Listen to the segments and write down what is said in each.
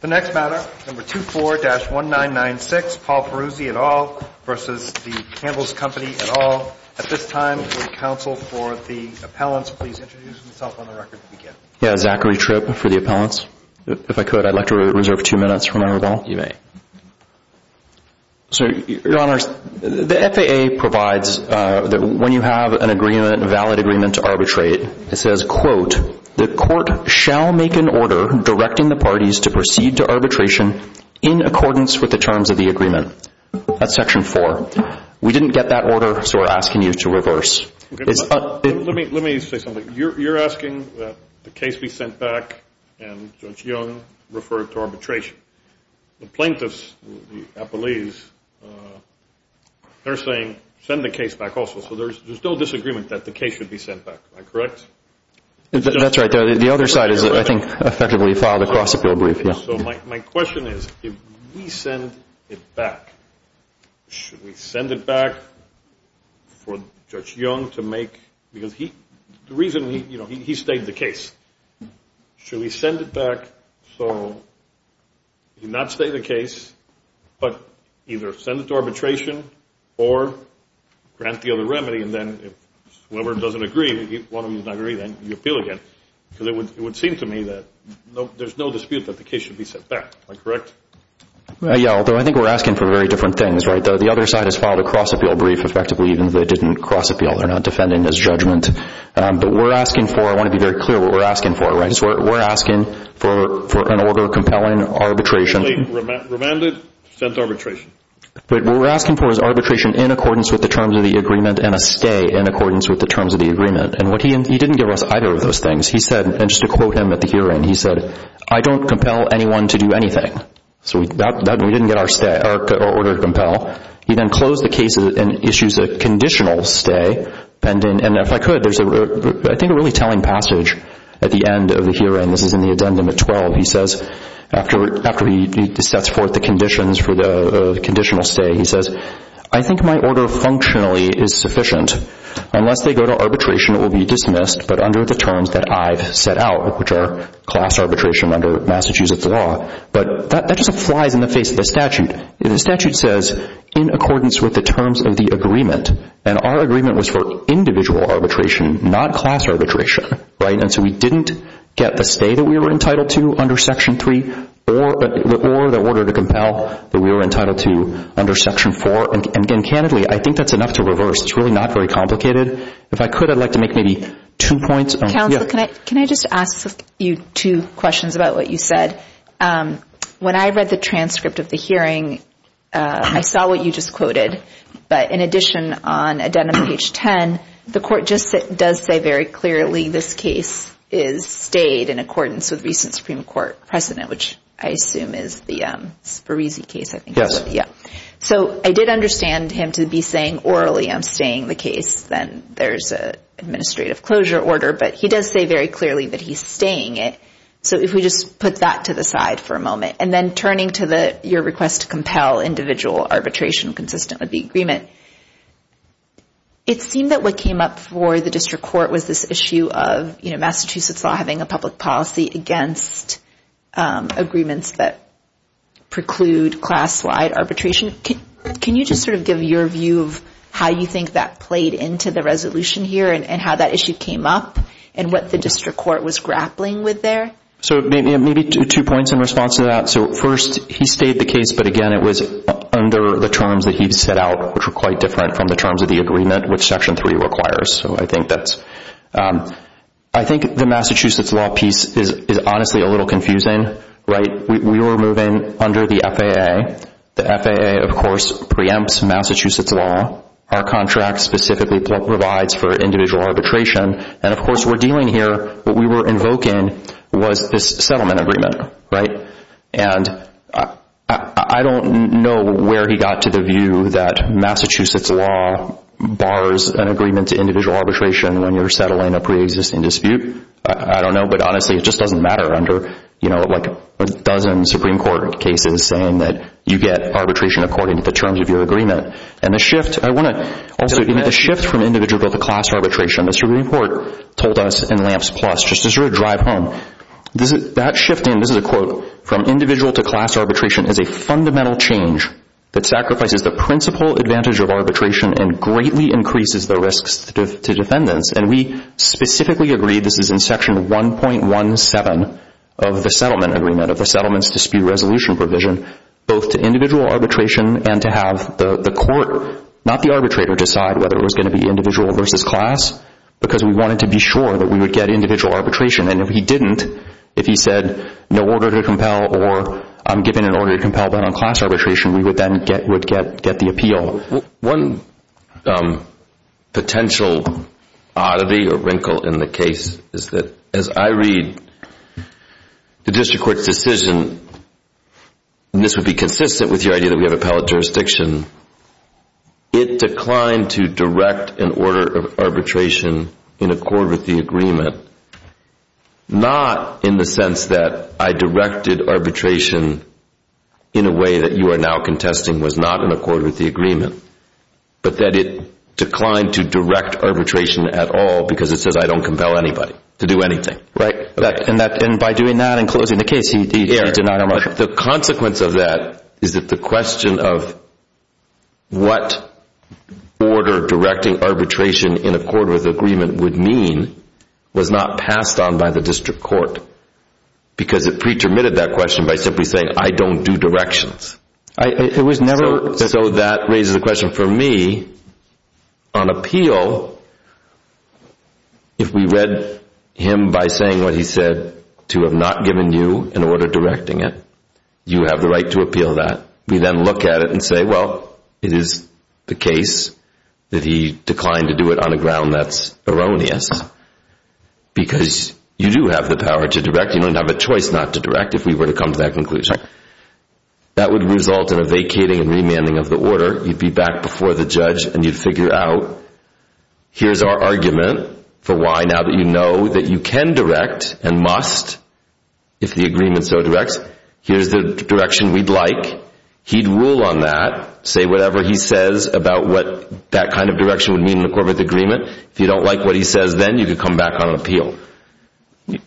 The next matter, No. 24-1996, Paul Perruzzi et al. v. The Campbell's Company et al. At this time, will the counsel for the appellants please introduce themselves on the record at the beginning? Zachary Tripp for the appellants. If I could, I'd like to reserve two minutes for my rebuttal. You may. Your Honor, the FAA provides that when you have an agreement, a valid agreement to arbitrate, it says, quote, the court shall make an order directing the parties to proceed to arbitration in accordance with the terms of the agreement. That's Section 4. We didn't get that order, so we're asking you to reverse. Let me say something. You're asking that the case be sent back and Judge Young refer it to arbitration. The plaintiffs, the appellees, they're saying send the case back also. There's no disagreement that the case should be sent back. Am I correct? That's right. The other side is, I think, effectively filed across the bill brief. My question is, if we send it back, should we send it back for Judge Young to make – because the reason – he stayed the case. Should we send it back so he did not stay the case but either send it to arbitration or grant the other remedy, and then if whoever doesn't agree, one of them does not agree, then you appeal again? Because it would seem to me that there's no dispute that the case should be sent back. Am I correct? Yeah, although I think we're asking for very different things, right? The other side has filed a cross-appeal brief, effectively, even if they didn't cross-appeal. They're not defending this judgment. But we're asking for – I want to be very clear what we're asking for, right? We're asking for an order compelling arbitration. Effectively remanded, sent to arbitration. But what we're asking for is arbitration in accordance with the terms of the agreement and a stay in accordance with the terms of the agreement. And what he – he didn't give us either of those things. He said – and just to quote him at the hearing, he said, I don't compel anyone to do anything. So we didn't get our stay – our order to compel. He then closed the case and issues a conditional stay. And if I could, there's a – I think a really telling passage at the end of the hearing. This is in the addendum at 12. He says, after he sets forth the conditions for the conditional stay, he says, I think my order functionally is sufficient. Unless they go to arbitration, it will be dismissed, but under the terms that I've set out, which are class arbitration under Massachusetts law. But that just flies in the face of the statute. The statute says in accordance with the terms of the agreement. And our agreement was for individual arbitration, not class arbitration, right? And so we didn't get the stay that we were entitled to under Section 3 or the order to compel that we were entitled to under Section 4. And candidly, I think that's enough to reverse. It's really not very complicated. If I could, I'd like to make maybe two points. Counsel, can I just ask you two questions about what you said? When I read the transcript of the hearing, I saw what you just quoted. But in addition, on addendum page 10, the court does say very clearly this case is stayed in accordance with recent Supreme Court precedent, which I assume is the Spirisi case, I think. Yeah. So I did understand him to be saying orally I'm staying the case. Then there's an administrative closure order. But he does say very clearly that he's staying it. So if we just put that to the side for a moment. And then turning to your request to compel individual arbitration consistent with the agreement, it seemed that what came up for the district court was this issue of Massachusetts law having a public policy against agreements that preclude class-wide arbitration. Can you just sort of give your view of how you think that played into the resolution here and how that issue came up and what the district court was grappling with there? So maybe two points in response to that. So first, he stayed the case, but again, it was under the terms that he set out, which were quite different from the terms of the agreement, which Section 3 requires. So I think the Massachusetts law piece is honestly a little confusing, right? We were moving under the FAA. The FAA, of course, preempts Massachusetts law. Our contract specifically provides for individual arbitration. And, of course, we're dealing here, what we were invoking was this settlement agreement, right? And I don't know where he got to the view that Massachusetts law bars an agreement to individual arbitration when you're settling a preexisting dispute. I don't know. But honestly, it just doesn't matter under, you know, like a dozen Supreme Court cases saying that you get arbitration according to the terms of your agreement. Also, the shift from individual to class arbitration, as your report told us in LAMPS Plus, just as your drive home, that shift in, this is a quote, from individual to class arbitration is a fundamental change that sacrifices the principal advantage of arbitration and greatly increases the risks to defendants. And we specifically agree, this is in Section 1.17 of the settlement agreement, of the Settlements Dispute Resolution provision, both to individual arbitration and to have the court, not the arbitrator, decide whether it was going to be individual versus class because we wanted to be sure that we would get individual arbitration. And if he didn't, if he said no order to compel or I'm giving an order to compel but on class arbitration, we would then get the appeal. One potential oddity or wrinkle in the case is that as I read the district court's decision, and this would be consistent with your idea that we have appellate jurisdiction, it declined to direct an order of arbitration in accord with the agreement, not in the sense that I directed arbitration in a way that you are now contesting and was not in accord with the agreement, but that it declined to direct arbitration at all because it says I don't compel anybody to do anything. And by doing that in closing the case, he denied our motion. The consequence of that is that the question of what order directing arbitration in accord with the agreement would mean was not passed on by the district court because it pre-termitted that question by simply saying I don't do directions. So that raises a question. For me, on appeal, if we read him by saying what he said to have not given you an order directing it, you have the right to appeal that. We then look at it and say, well, it is the case that he declined to do it on a ground that's erroneous because you do have the power to direct. You don't have a choice not to direct if we were to come to that conclusion. That would result in a vacating and remanding of the order. You'd be back before the judge and you'd figure out here's our argument for why, now that you know that you can direct and must if the agreement so directs, here's the direction we'd like. He'd rule on that, say whatever he says about what that kind of direction would mean in accord with the agreement. If you don't like what he says then, you could come back on appeal.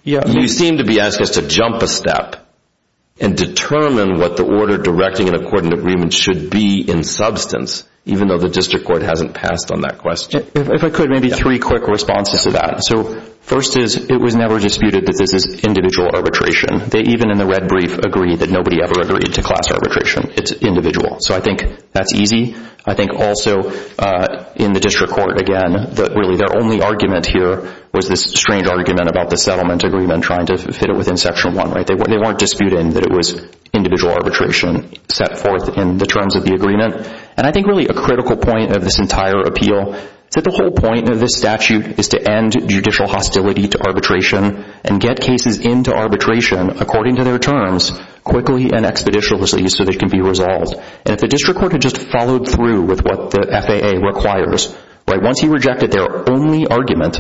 You seem to be asking us to jump a step and determine what the order directing an accordant agreement should be in substance, even though the district court hasn't passed on that question. If I could, maybe three quick responses to that. First is it was never disputed that this is individual arbitration. They even in the red brief agreed that nobody ever agreed to class arbitration. It's individual. So I think that's easy. I think also in the district court, again, that really their only argument here was this strange argument about the settlement agreement trying to fit it within Section 1. They weren't disputing that it was individual arbitration set forth in the terms of the agreement. And I think really a critical point of this entire appeal is that the whole point of this statute is to end judicial hostility to arbitration and get cases into arbitration according to their terms, quickly and expeditiously, so they can be resolved. And if the district court had just followed through with what the FAA requires, once he rejected their only argument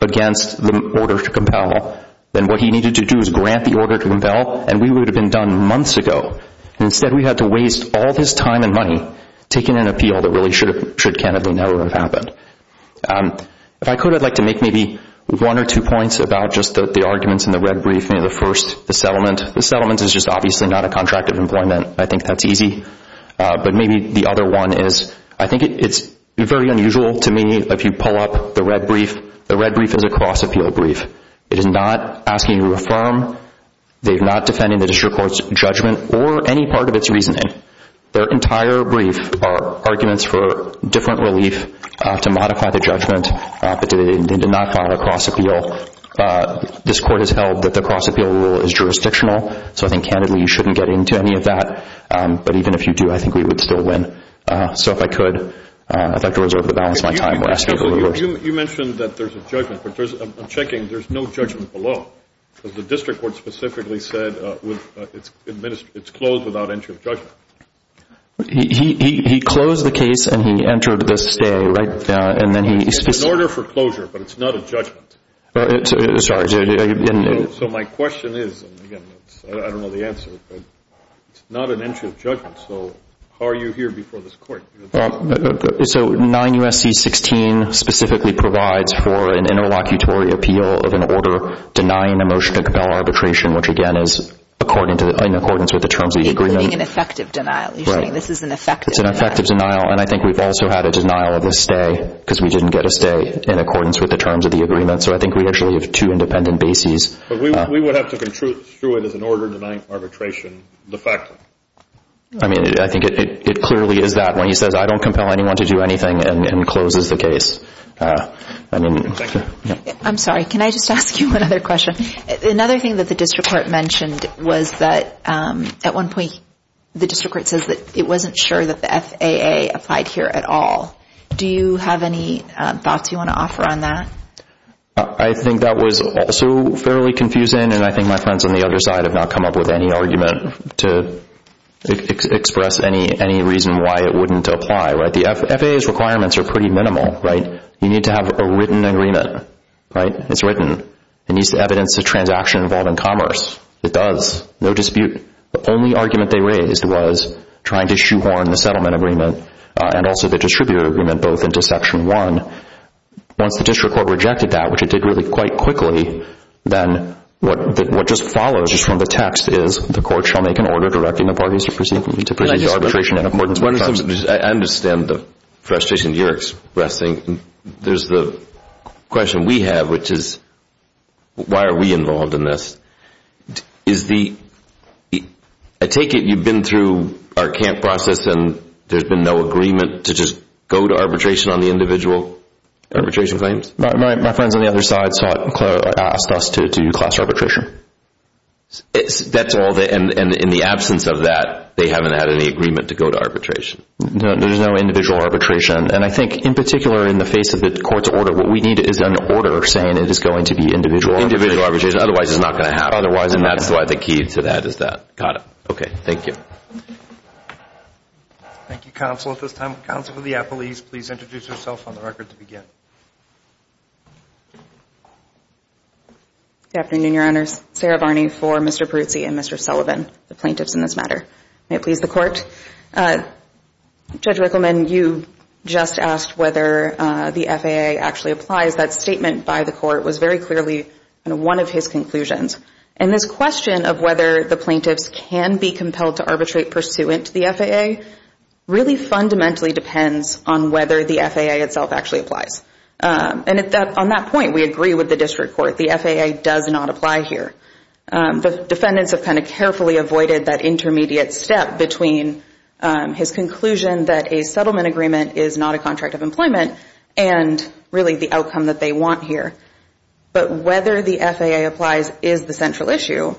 against the order to compel, then what he needed to do is grant the order to compel, and we would have been done months ago. Instead, we had to waste all this time and money taking an appeal that really should candidly never have happened. If I could, I'd like to make maybe one or two points about just the arguments in the red brief, maybe the first, the settlement. The settlement is just obviously not a contract of employment. I think that's easy. But maybe the other one is I think it's very unusual to me, if you pull up the red brief, the red brief is a cross-appeal brief. It is not asking you to affirm. They're not defending the district court's judgment or any part of its reasoning. Their entire brief are arguments for different relief to modify the judgment that they did not file a cross-appeal. This court has held that the cross-appeal rule is jurisdictional, so I think candidly you shouldn't get into any of that. But even if you do, I think we would still win. So if I could, I'd like to reserve the balance of my time. You mentioned that there's a judgment. I'm checking. There's no judgment below because the district court specifically said it's closed without entry of judgment. He closed the case and he entered the stay, right? It's an order for closure, but it's not a judgment. Sorry. So my question is, and again, I don't know the answer, but it's not an entry of judgment. So how are you here before this court? So 9 U.S.C. 16 specifically provides for an interlocutory appeal of an order denying a motion to compel arbitration, which again is in accordance with the terms of the agreement. You're giving an effective denial. You're saying this is an effective denial. It's an effective denial, and I think we've also had a denial of a stay because we didn't get a stay in accordance with the terms of the agreement. So I think we actually have two independent bases. But we would have to construe it as an order denying arbitration, effectively. I mean, I think it clearly is that. When he says, I don't compel anyone to do anything, and closes the case. Thank you. I'm sorry. Can I just ask you another question? Another thing that the district court mentioned was that at one point the district court says that it wasn't sure that the FAA applied here at all. Do you have any thoughts you want to offer on that? I think that was also fairly confusing, and I think my friends on the other side have not come up with any argument to express any reason why it wouldn't apply. The FAA's requirements are pretty minimal. You need to have a written agreement. It's written. It needs to evidence the transaction involved in commerce. It does. No dispute. The only argument they raised was trying to shoehorn the settlement agreement and also the distributor agreement both into Section 1. Once the district court rejected that, which it did really quite quickly, then what just follows from the text is, the court shall make an order directing the parties to proceed with arbitration. I understand the frustration you're expressing. There's the question we have, which is, why are we involved in this? I take it you've been through our camp process and there's been no agreement to just go to arbitration on the individual arbitration claims. My friends on the other side saw it and asked us to do class arbitration. And in the absence of that, they haven't had any agreement to go to arbitration. There's no individual arbitration. And I think, in particular, in the face of the court's order, what we need is an order saying it is going to be individual arbitration. Individual arbitration. Otherwise, it's not going to happen. Otherwise, and that's why the key to that is that. Got it. Okay. Thank you. Thank you, Counsel. At this time, Counsel for the Appellees, please introduce yourself on the record to begin. Good afternoon, Your Honors. Sarah Barney for Mr. Peruzzi and Mr. Sullivan, the plaintiffs in this matter. May it please the Court. Judge Rickleman, you just asked whether the FAA actually applies. That statement by the Court was very clearly one of his conclusions. And this question of whether the plaintiffs can be compelled to arbitrate pursuant to the FAA really fundamentally depends on whether the FAA itself actually applies. And on that point, we agree with the District Court. The FAA does not apply here. The defendants have kind of carefully avoided that intermediate step between his conclusion that a settlement agreement is not a contract of employment and really the outcome that they want here. But whether the FAA applies is the central issue,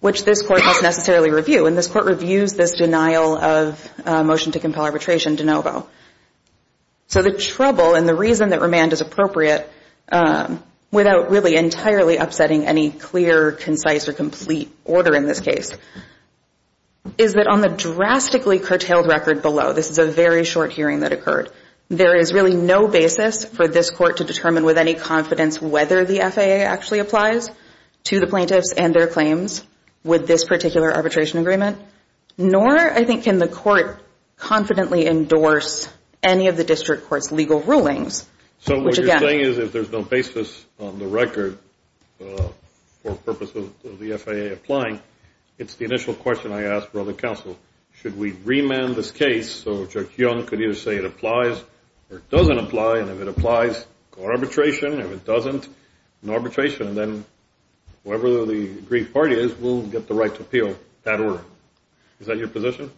which this Court must necessarily review. And this Court reviews this denial of motion to compel arbitration de novo. So the trouble and the reason that remand is appropriate, without really entirely upsetting any clear, concise, or complete order in this case, is that on the drastically curtailed record below, this is a very short hearing that occurred, there is really no basis for this Court to determine with any confidence whether the FAA actually applies to the plaintiffs and their claims with this particular arbitration agreement. Nor, I think, can the Court confidently endorse any of the District Court's legal rulings. So what you're saying is if there's no basis on the record for the purpose of the FAA applying, it's the initial question I ask for other counsel, should we remand this case so Judge Young could either say it applies or it doesn't apply, and if it applies, go to arbitration, and if it doesn't, go to arbitration, and then whoever the agreed party is will get the right to appeal that order. Is that your position?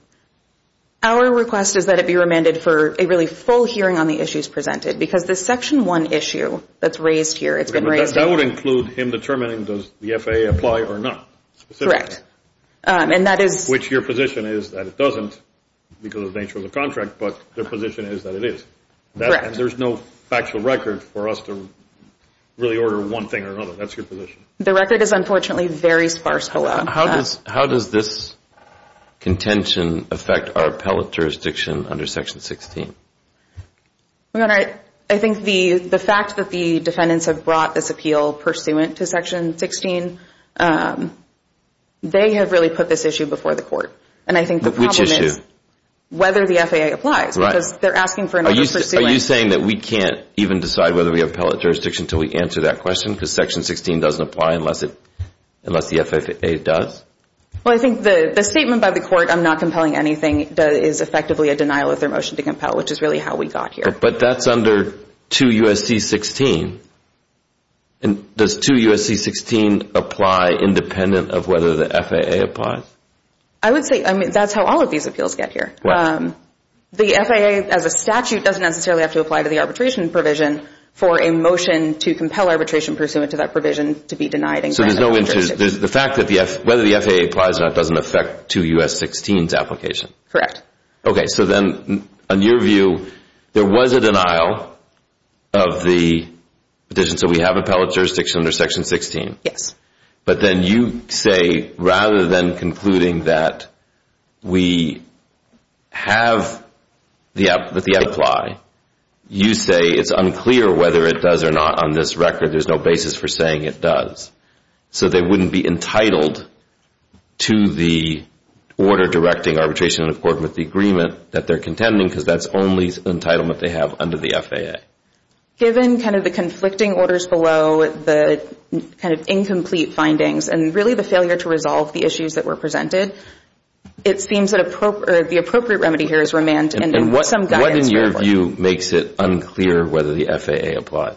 Our request is that it be remanded for a really full hearing on the issues presented because the Section 1 issue that's raised here, it's been raised here. That would include him determining does the FAA apply or not, specifically. Correct. And that is... Which your position is that it doesn't because of the nature of the contract, but their position is that it is. Correct. There's no factual record for us to really order one thing or another. That's your position. The record is, unfortunately, very sparse. How does this contention affect our appellate jurisdiction under Section 16? Your Honor, I think the fact that the defendants have brought this appeal pursuant to Section 16, they have really put this issue before the court. Which issue? And I think the problem is whether the FAA applies because they're asking for another pursuant. Are you saying that we can't even decide whether we have appellate jurisdiction until we answer that question because Section 16 doesn't apply unless the FAA does? Well, I think the statement by the court, I'm not compelling anything, is effectively a denial of their motion to compel, which is really how we got here. But that's under 2 U.S.C. 16. Does 2 U.S.C. 16 apply independent of whether the FAA applies? I would say that's how all of these appeals get here. The FAA as a statute doesn't necessarily have to apply to the arbitration provision for a motion to compel arbitration pursuant to that provision to be denied. So there's no interest. The fact that whether the FAA applies or not doesn't affect 2 U.S.C. 16's application. Correct. Okay. So then on your view, there was a denial of the petition, so we have appellate jurisdiction under Section 16. Yes. But then you say rather than concluding that we have the FAA apply, you say it's unclear whether it does or not on this record. There's no basis for saying it does. So they wouldn't be entitled to the order directing arbitration in accordance with the agreement that they're contending because that's the only entitlement they have under the FAA. Given kind of the conflicting orders below, the kind of incomplete findings, and really the failure to resolve the issues that were presented, it seems that the appropriate remedy here is remand and some guidance. And what in your view makes it unclear whether the FAA applies?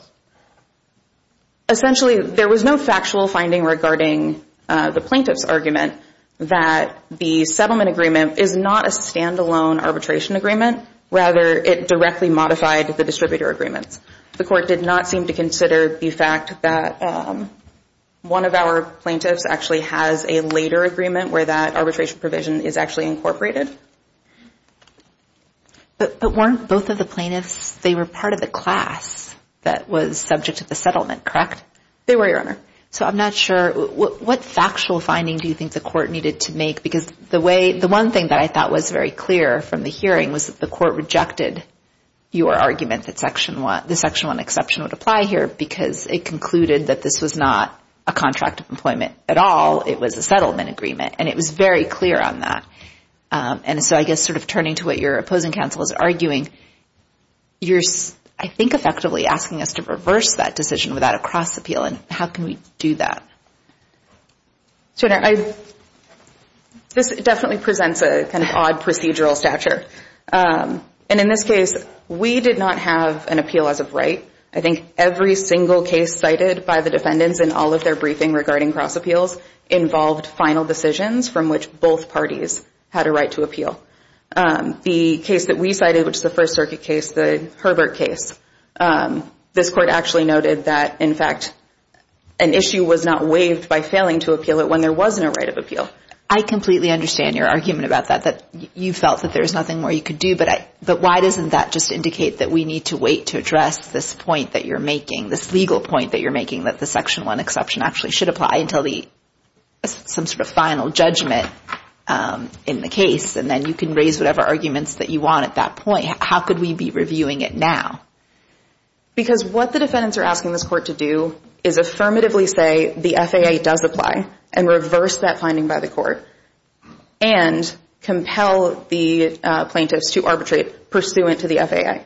Essentially, there was no factual finding regarding the plaintiff's argument that the settlement agreement is not a standalone arbitration agreement. Rather, it directly modified the distributor agreements. The court did not seem to consider the fact that one of our plaintiffs actually has a later agreement where that arbitration provision is actually incorporated. But weren't both of the plaintiffs, they were part of the class that was subject to the settlement, correct? They were, Your Honor. So I'm not sure. What factual finding do you think the court needed to make? Because the one thing that I thought was very clear from the hearing was that the court rejected your argument that Section 1, the Section 1 exception would apply here because it concluded that this was not a contract of employment at all. It was a settlement agreement, and it was very clear on that. And so I guess sort of turning to what your opposing counsel is arguing, you're, I think, effectively asking us to reverse that decision without a cross-appeal, and how can we do that? Your Honor, this definitely presents a kind of odd procedural stature. And in this case, we did not have an appeal as of right. I think every single case cited by the defendants in all of their briefing regarding cross-appeals involved final decisions from which both parties had a right to appeal. The case that we cited, which is the First Circuit case, the Herbert case, this court actually noted that, in fact, an issue was not waived by failing to appeal it when there wasn't a right of appeal. I completely understand your argument about that, that you felt that there was nothing more you could do. But why doesn't that just indicate that we need to wait to address this point that you're making, this legal point that you're making, that the Section 1 exception actually should apply until some sort of final judgment in the case, and then you can raise whatever arguments that you want at that point? How could we be reviewing it now? Because what the defendants are asking this court to do is affirmatively say the FAA does apply and reverse that finding by the court and compel the plaintiffs to arbitrate pursuant to the FAA.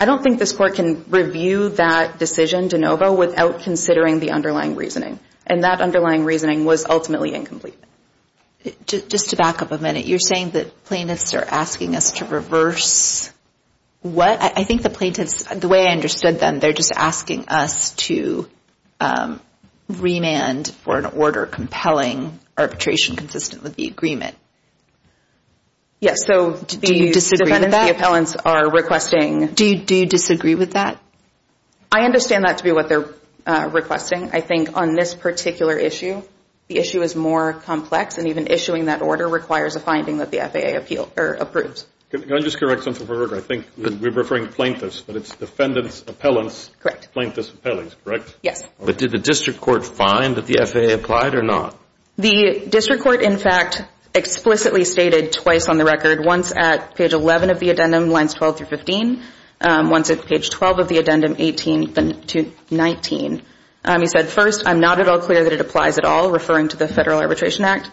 I don't think this court can review that decision de novo without considering the underlying reasoning, and that underlying reasoning was ultimately incomplete. Just to back up a minute, you're saying that plaintiffs are asking us to reverse what? I think the plaintiffs, the way I understood them, they're just asking us to remand for an order compelling arbitration consistent with the agreement. Yes, so the defendants, the appellants, are requesting... Do you disagree with that? I understand that to be what they're requesting. I think on this particular issue, the issue is more complex, and even issuing that order requires a finding that the FAA approves. Can I just correct something for a second? I think we're referring to plaintiffs, but it's defendants, appellants, plaintiffs, appellants, correct? Yes. But did the district court find that the FAA applied or not? The district court, in fact, explicitly stated twice on the record, once at page 11 of the addendum, lines 12 through 15, once at page 12 of the addendum, 18 to 19. He said, first, I'm not at all clear that it applies at all, referring to the Federal Arbitration Act.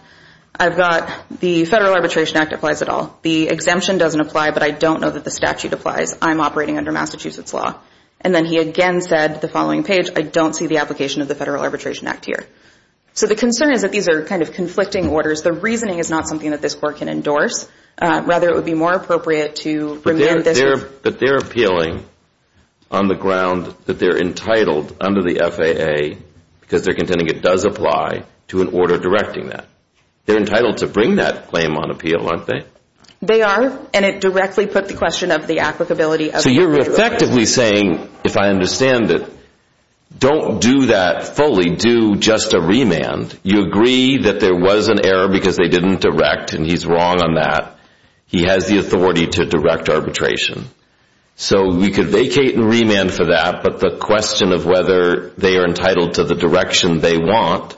I've got the Federal Arbitration Act applies at all. The exemption doesn't apply, but I don't know that the statute applies. I'm operating under Massachusetts law. And then he again said, the following page, I don't see the application of the Federal Arbitration Act here. So the concern is that these are kind of conflicting orders. The reasoning is not something that this court can endorse. Rather, it would be more appropriate to remand this... But they're appealing on the ground that they're entitled under the FAA because they're contending it does apply to an order directing that. They're entitled to bring that claim on appeal, aren't they? They are, and it directly put the question of the applicability of the Federal Arbitration Act. So you're effectively saying, if I understand it, don't do that fully, do just a remand. You agree that there was an error because they didn't direct, and he's wrong on that. He has the authority to direct arbitration. So we could vacate and remand for that, but the question of whether they are entitled to the direction they want,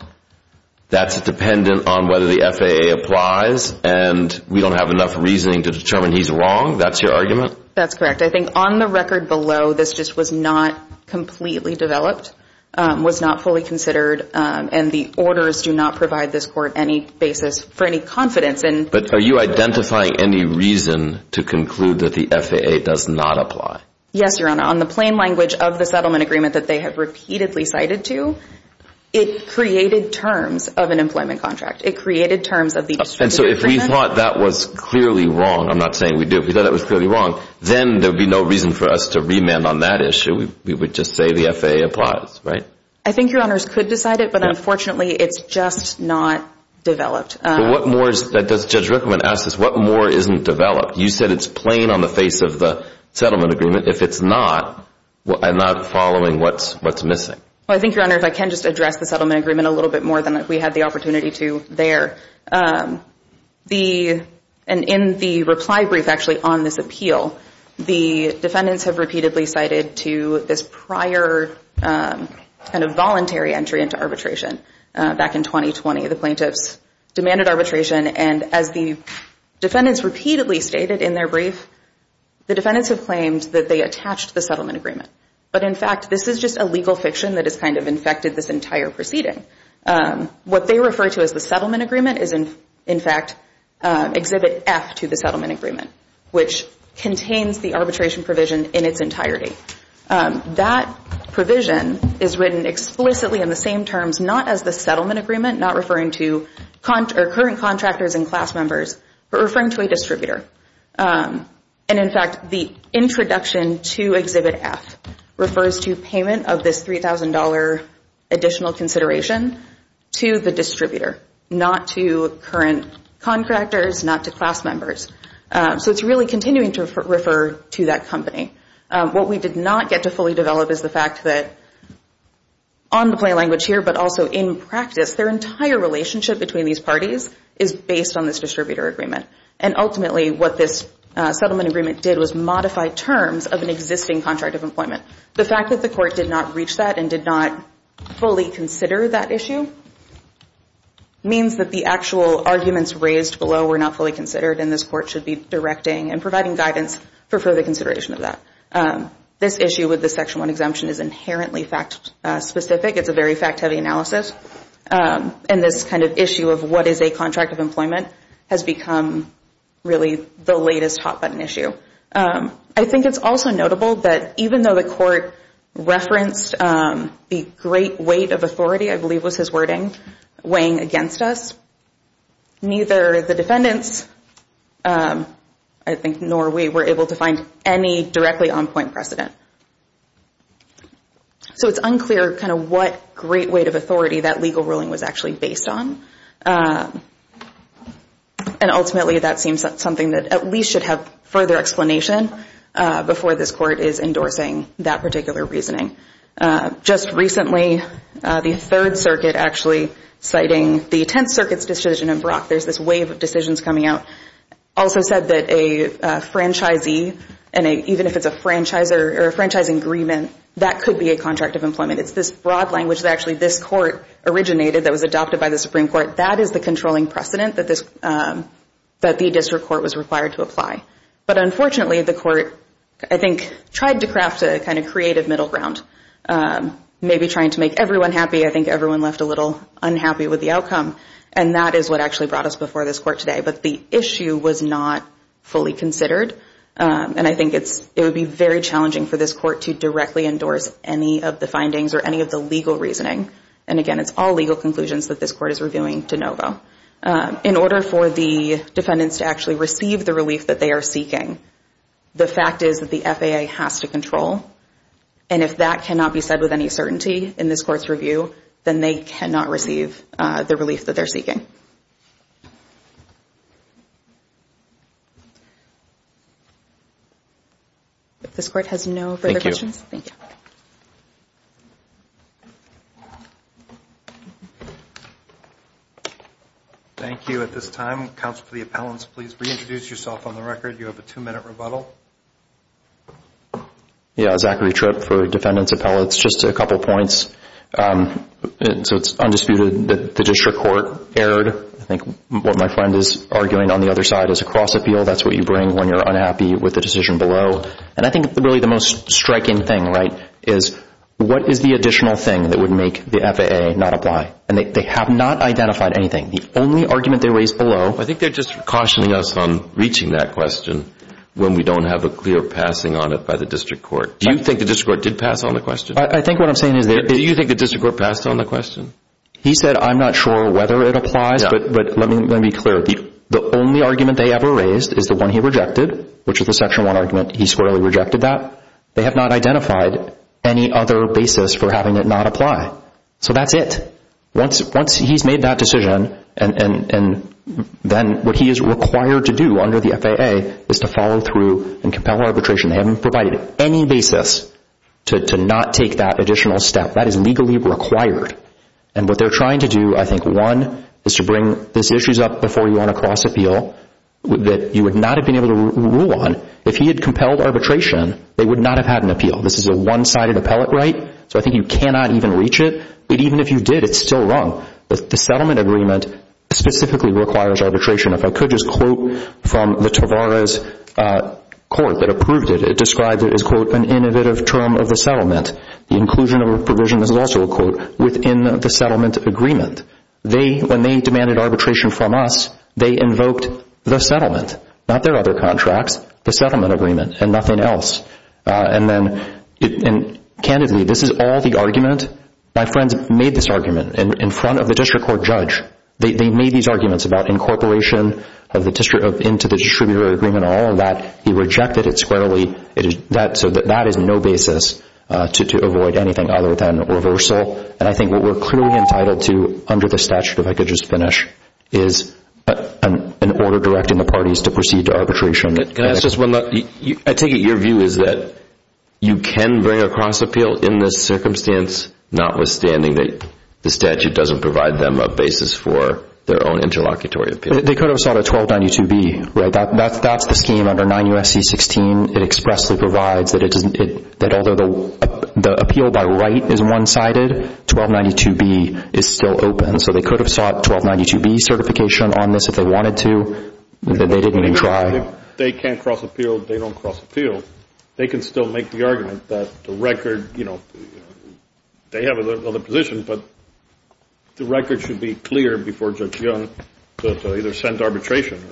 that's dependent on whether the FAA applies, and we don't have enough reasoning to determine he's wrong. That's your argument? That's correct. I think on the record below, this just was not completely developed, was not fully considered, and the orders do not provide this court any basis for any confidence. But are you identifying any reason to conclude that the FAA does not apply? Yes, Your Honor. On the plain language of the settlement agreement that they have repeatedly cited to, it created terms of an employment contract. It created terms of the district agreement. And so if we thought that was clearly wrong, I'm not saying we do, if we thought that was clearly wrong, then there would be no reason for us to remand on that issue. We would just say the FAA applies, right? I think Your Honors could decide it, but unfortunately it's just not developed. Well, what more does Judge Rickman ask us? What more isn't developed? You said it's plain on the face of the settlement agreement. If it's not, I'm not following what's missing. Well, I think, Your Honor, if I can just address the settlement agreement a little bit more than we had the opportunity to there. In the reply brief actually on this appeal, the defendants have repeatedly cited to this prior kind of voluntary entry into arbitration. Back in 2020, the plaintiffs demanded arbitration, and as the defendants repeatedly stated in their brief, the defendants have claimed that they attached the settlement agreement. But in fact, this is just a legal fiction that has kind of infected this entire proceeding. What they refer to as the settlement agreement is in fact Exhibit F to the settlement agreement, which contains the arbitration provision in its entirety. That provision is written explicitly in the same terms not as the settlement agreement, not referring to current contractors and class members, but referring to a distributor. And in fact, the introduction to Exhibit F refers to payment of this $3,000 additional consideration to the distributor, not to current contractors, not to class members. So it's really continuing to refer to that company. What we did not get to fully develop is the fact that on the plain language here, but also in practice, their entire relationship between these parties is based on this distributor agreement. And ultimately, what this settlement agreement did was modify terms of an existing contract of employment. The fact that the court did not reach that and did not fully consider that issue means that the actual arguments raised below were not fully considered, and this court should be directing and providing guidance for further consideration of that. This issue with the Section 1 exemption is inherently fact-specific. It's a very fact-heavy analysis. And this kind of issue of what is a contract of employment has become really the latest hot-button issue. I think it's also notable that even though the court referenced the great weight of authority, I believe was his wording, weighing against us, neither the defendants, I think, nor we were able to find any directly on-point precedent. So it's unclear kind of what great weight of authority that legal ruling was actually based on. And ultimately, that seems something that at least should have further explanation before this court is endorsing that particular reasoning. Just recently, the Third Circuit actually citing the Tenth Circuit's decision in Brock, there's this wave of decisions coming out, also said that a franchisee, and even if it's a franchise agreement, that could be a contract of employment. It's this broad language that actually this court originated that was adopted by the Supreme Court. That is the controlling precedent that the district court was required to apply. But unfortunately, the court, I think, tried to craft a kind of creative middle ground, maybe trying to make everyone happy. I think everyone left a little unhappy with the outcome. And that is what actually brought us before this court today. But the issue was not fully considered. And I think it would be very challenging for this court to directly endorse any of the findings or any of the legal reasoning. And again, it's all legal conclusions that this court is reviewing de novo. In order for the defendants to actually receive the relief that they are seeking, the fact is that the FAA has to control. And if that cannot be said with any certainty in this court's review, then they cannot receive the relief that they're seeking. If this court has no further questions, thank you. Thank you. At this time, counsel for the appellants, please reintroduce yourself on the record. You have a two-minute rebuttal. Yeah, Zachary Tripp for defendants appellates. Just a couple points. So it's undisputed that the district court erred. I think what my friend is arguing on the other side is a cross-appeal. That's what you bring when you're unhappy with the decision below. And I think really the most striking thing, right, is what is the additional thing that would make the FAA not apply? And they have not identified anything. The only argument they raised below— I think they're just cautioning us on reaching that question when we don't have a clear passing on it by the district court. Do you think the district court did pass on the question? I think what I'm saying is— Do you think the district court passed on the question? He said, I'm not sure whether it applies, but let me be clear. The only argument they ever raised is the one he rejected, which is the Section 1 argument. He squarely rejected that. They have not identified any other basis for having it not apply. So that's it. Once he's made that decision, then what he is required to do under the FAA is to follow through and compel arbitration. They haven't provided any basis to not take that additional step. That is legally required. And what they're trying to do, I think, one, is to bring these issues up before you want a cross-appeal that you would not have been able to rule on. If he had compelled arbitration, they would not have had an appeal. This is a one-sided appellate right, so I think you cannot even reach it. But even if you did, it's still wrong. The settlement agreement specifically requires arbitration. If I could just quote from the Tavares court that approved it, it described it as, quote, an innovative term of the settlement. The inclusion of a provision, this is also a quote, within the settlement agreement. They, when they demanded arbitration from us, they invoked the settlement, not their other contracts, the settlement agreement and nothing else. And then, candidly, this is all the argument. My friends made this argument in front of the district court judge. They made these arguments about incorporation into the distributor agreement and all of that. He rejected it squarely. So that is no basis to avoid anything other than reversal. And I think what we're clearly entitled to under the statute, if I could just finish, is an order directing the parties to proceed to arbitration. I take it your view is that you can bring a cross-appeal in this circumstance, notwithstanding that the statute doesn't provide them a basis for their own interlocutory appeal. They could have sought a 1292B. That's the scheme under 9 U.S.C. 16. It expressly provides that although the appeal by right is one-sided, 1292B is still open. So they could have sought 1292B certification on this if they wanted to. They didn't even try. If they can't cross-appeal, they don't cross-appeal. They can still make the argument that the record, you know, they have another position, but the record should be clear before Judge Young to either send to arbitration.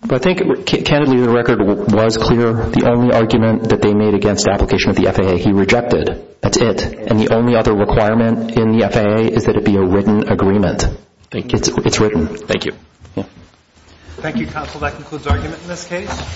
But I think, candidly, the record was clear. The only argument that they made against application of the FAA he rejected. That's it. And the only other requirement in the FAA is that it be a written agreement. It's written. Thank you. Thank you, counsel. That concludes argument in this case.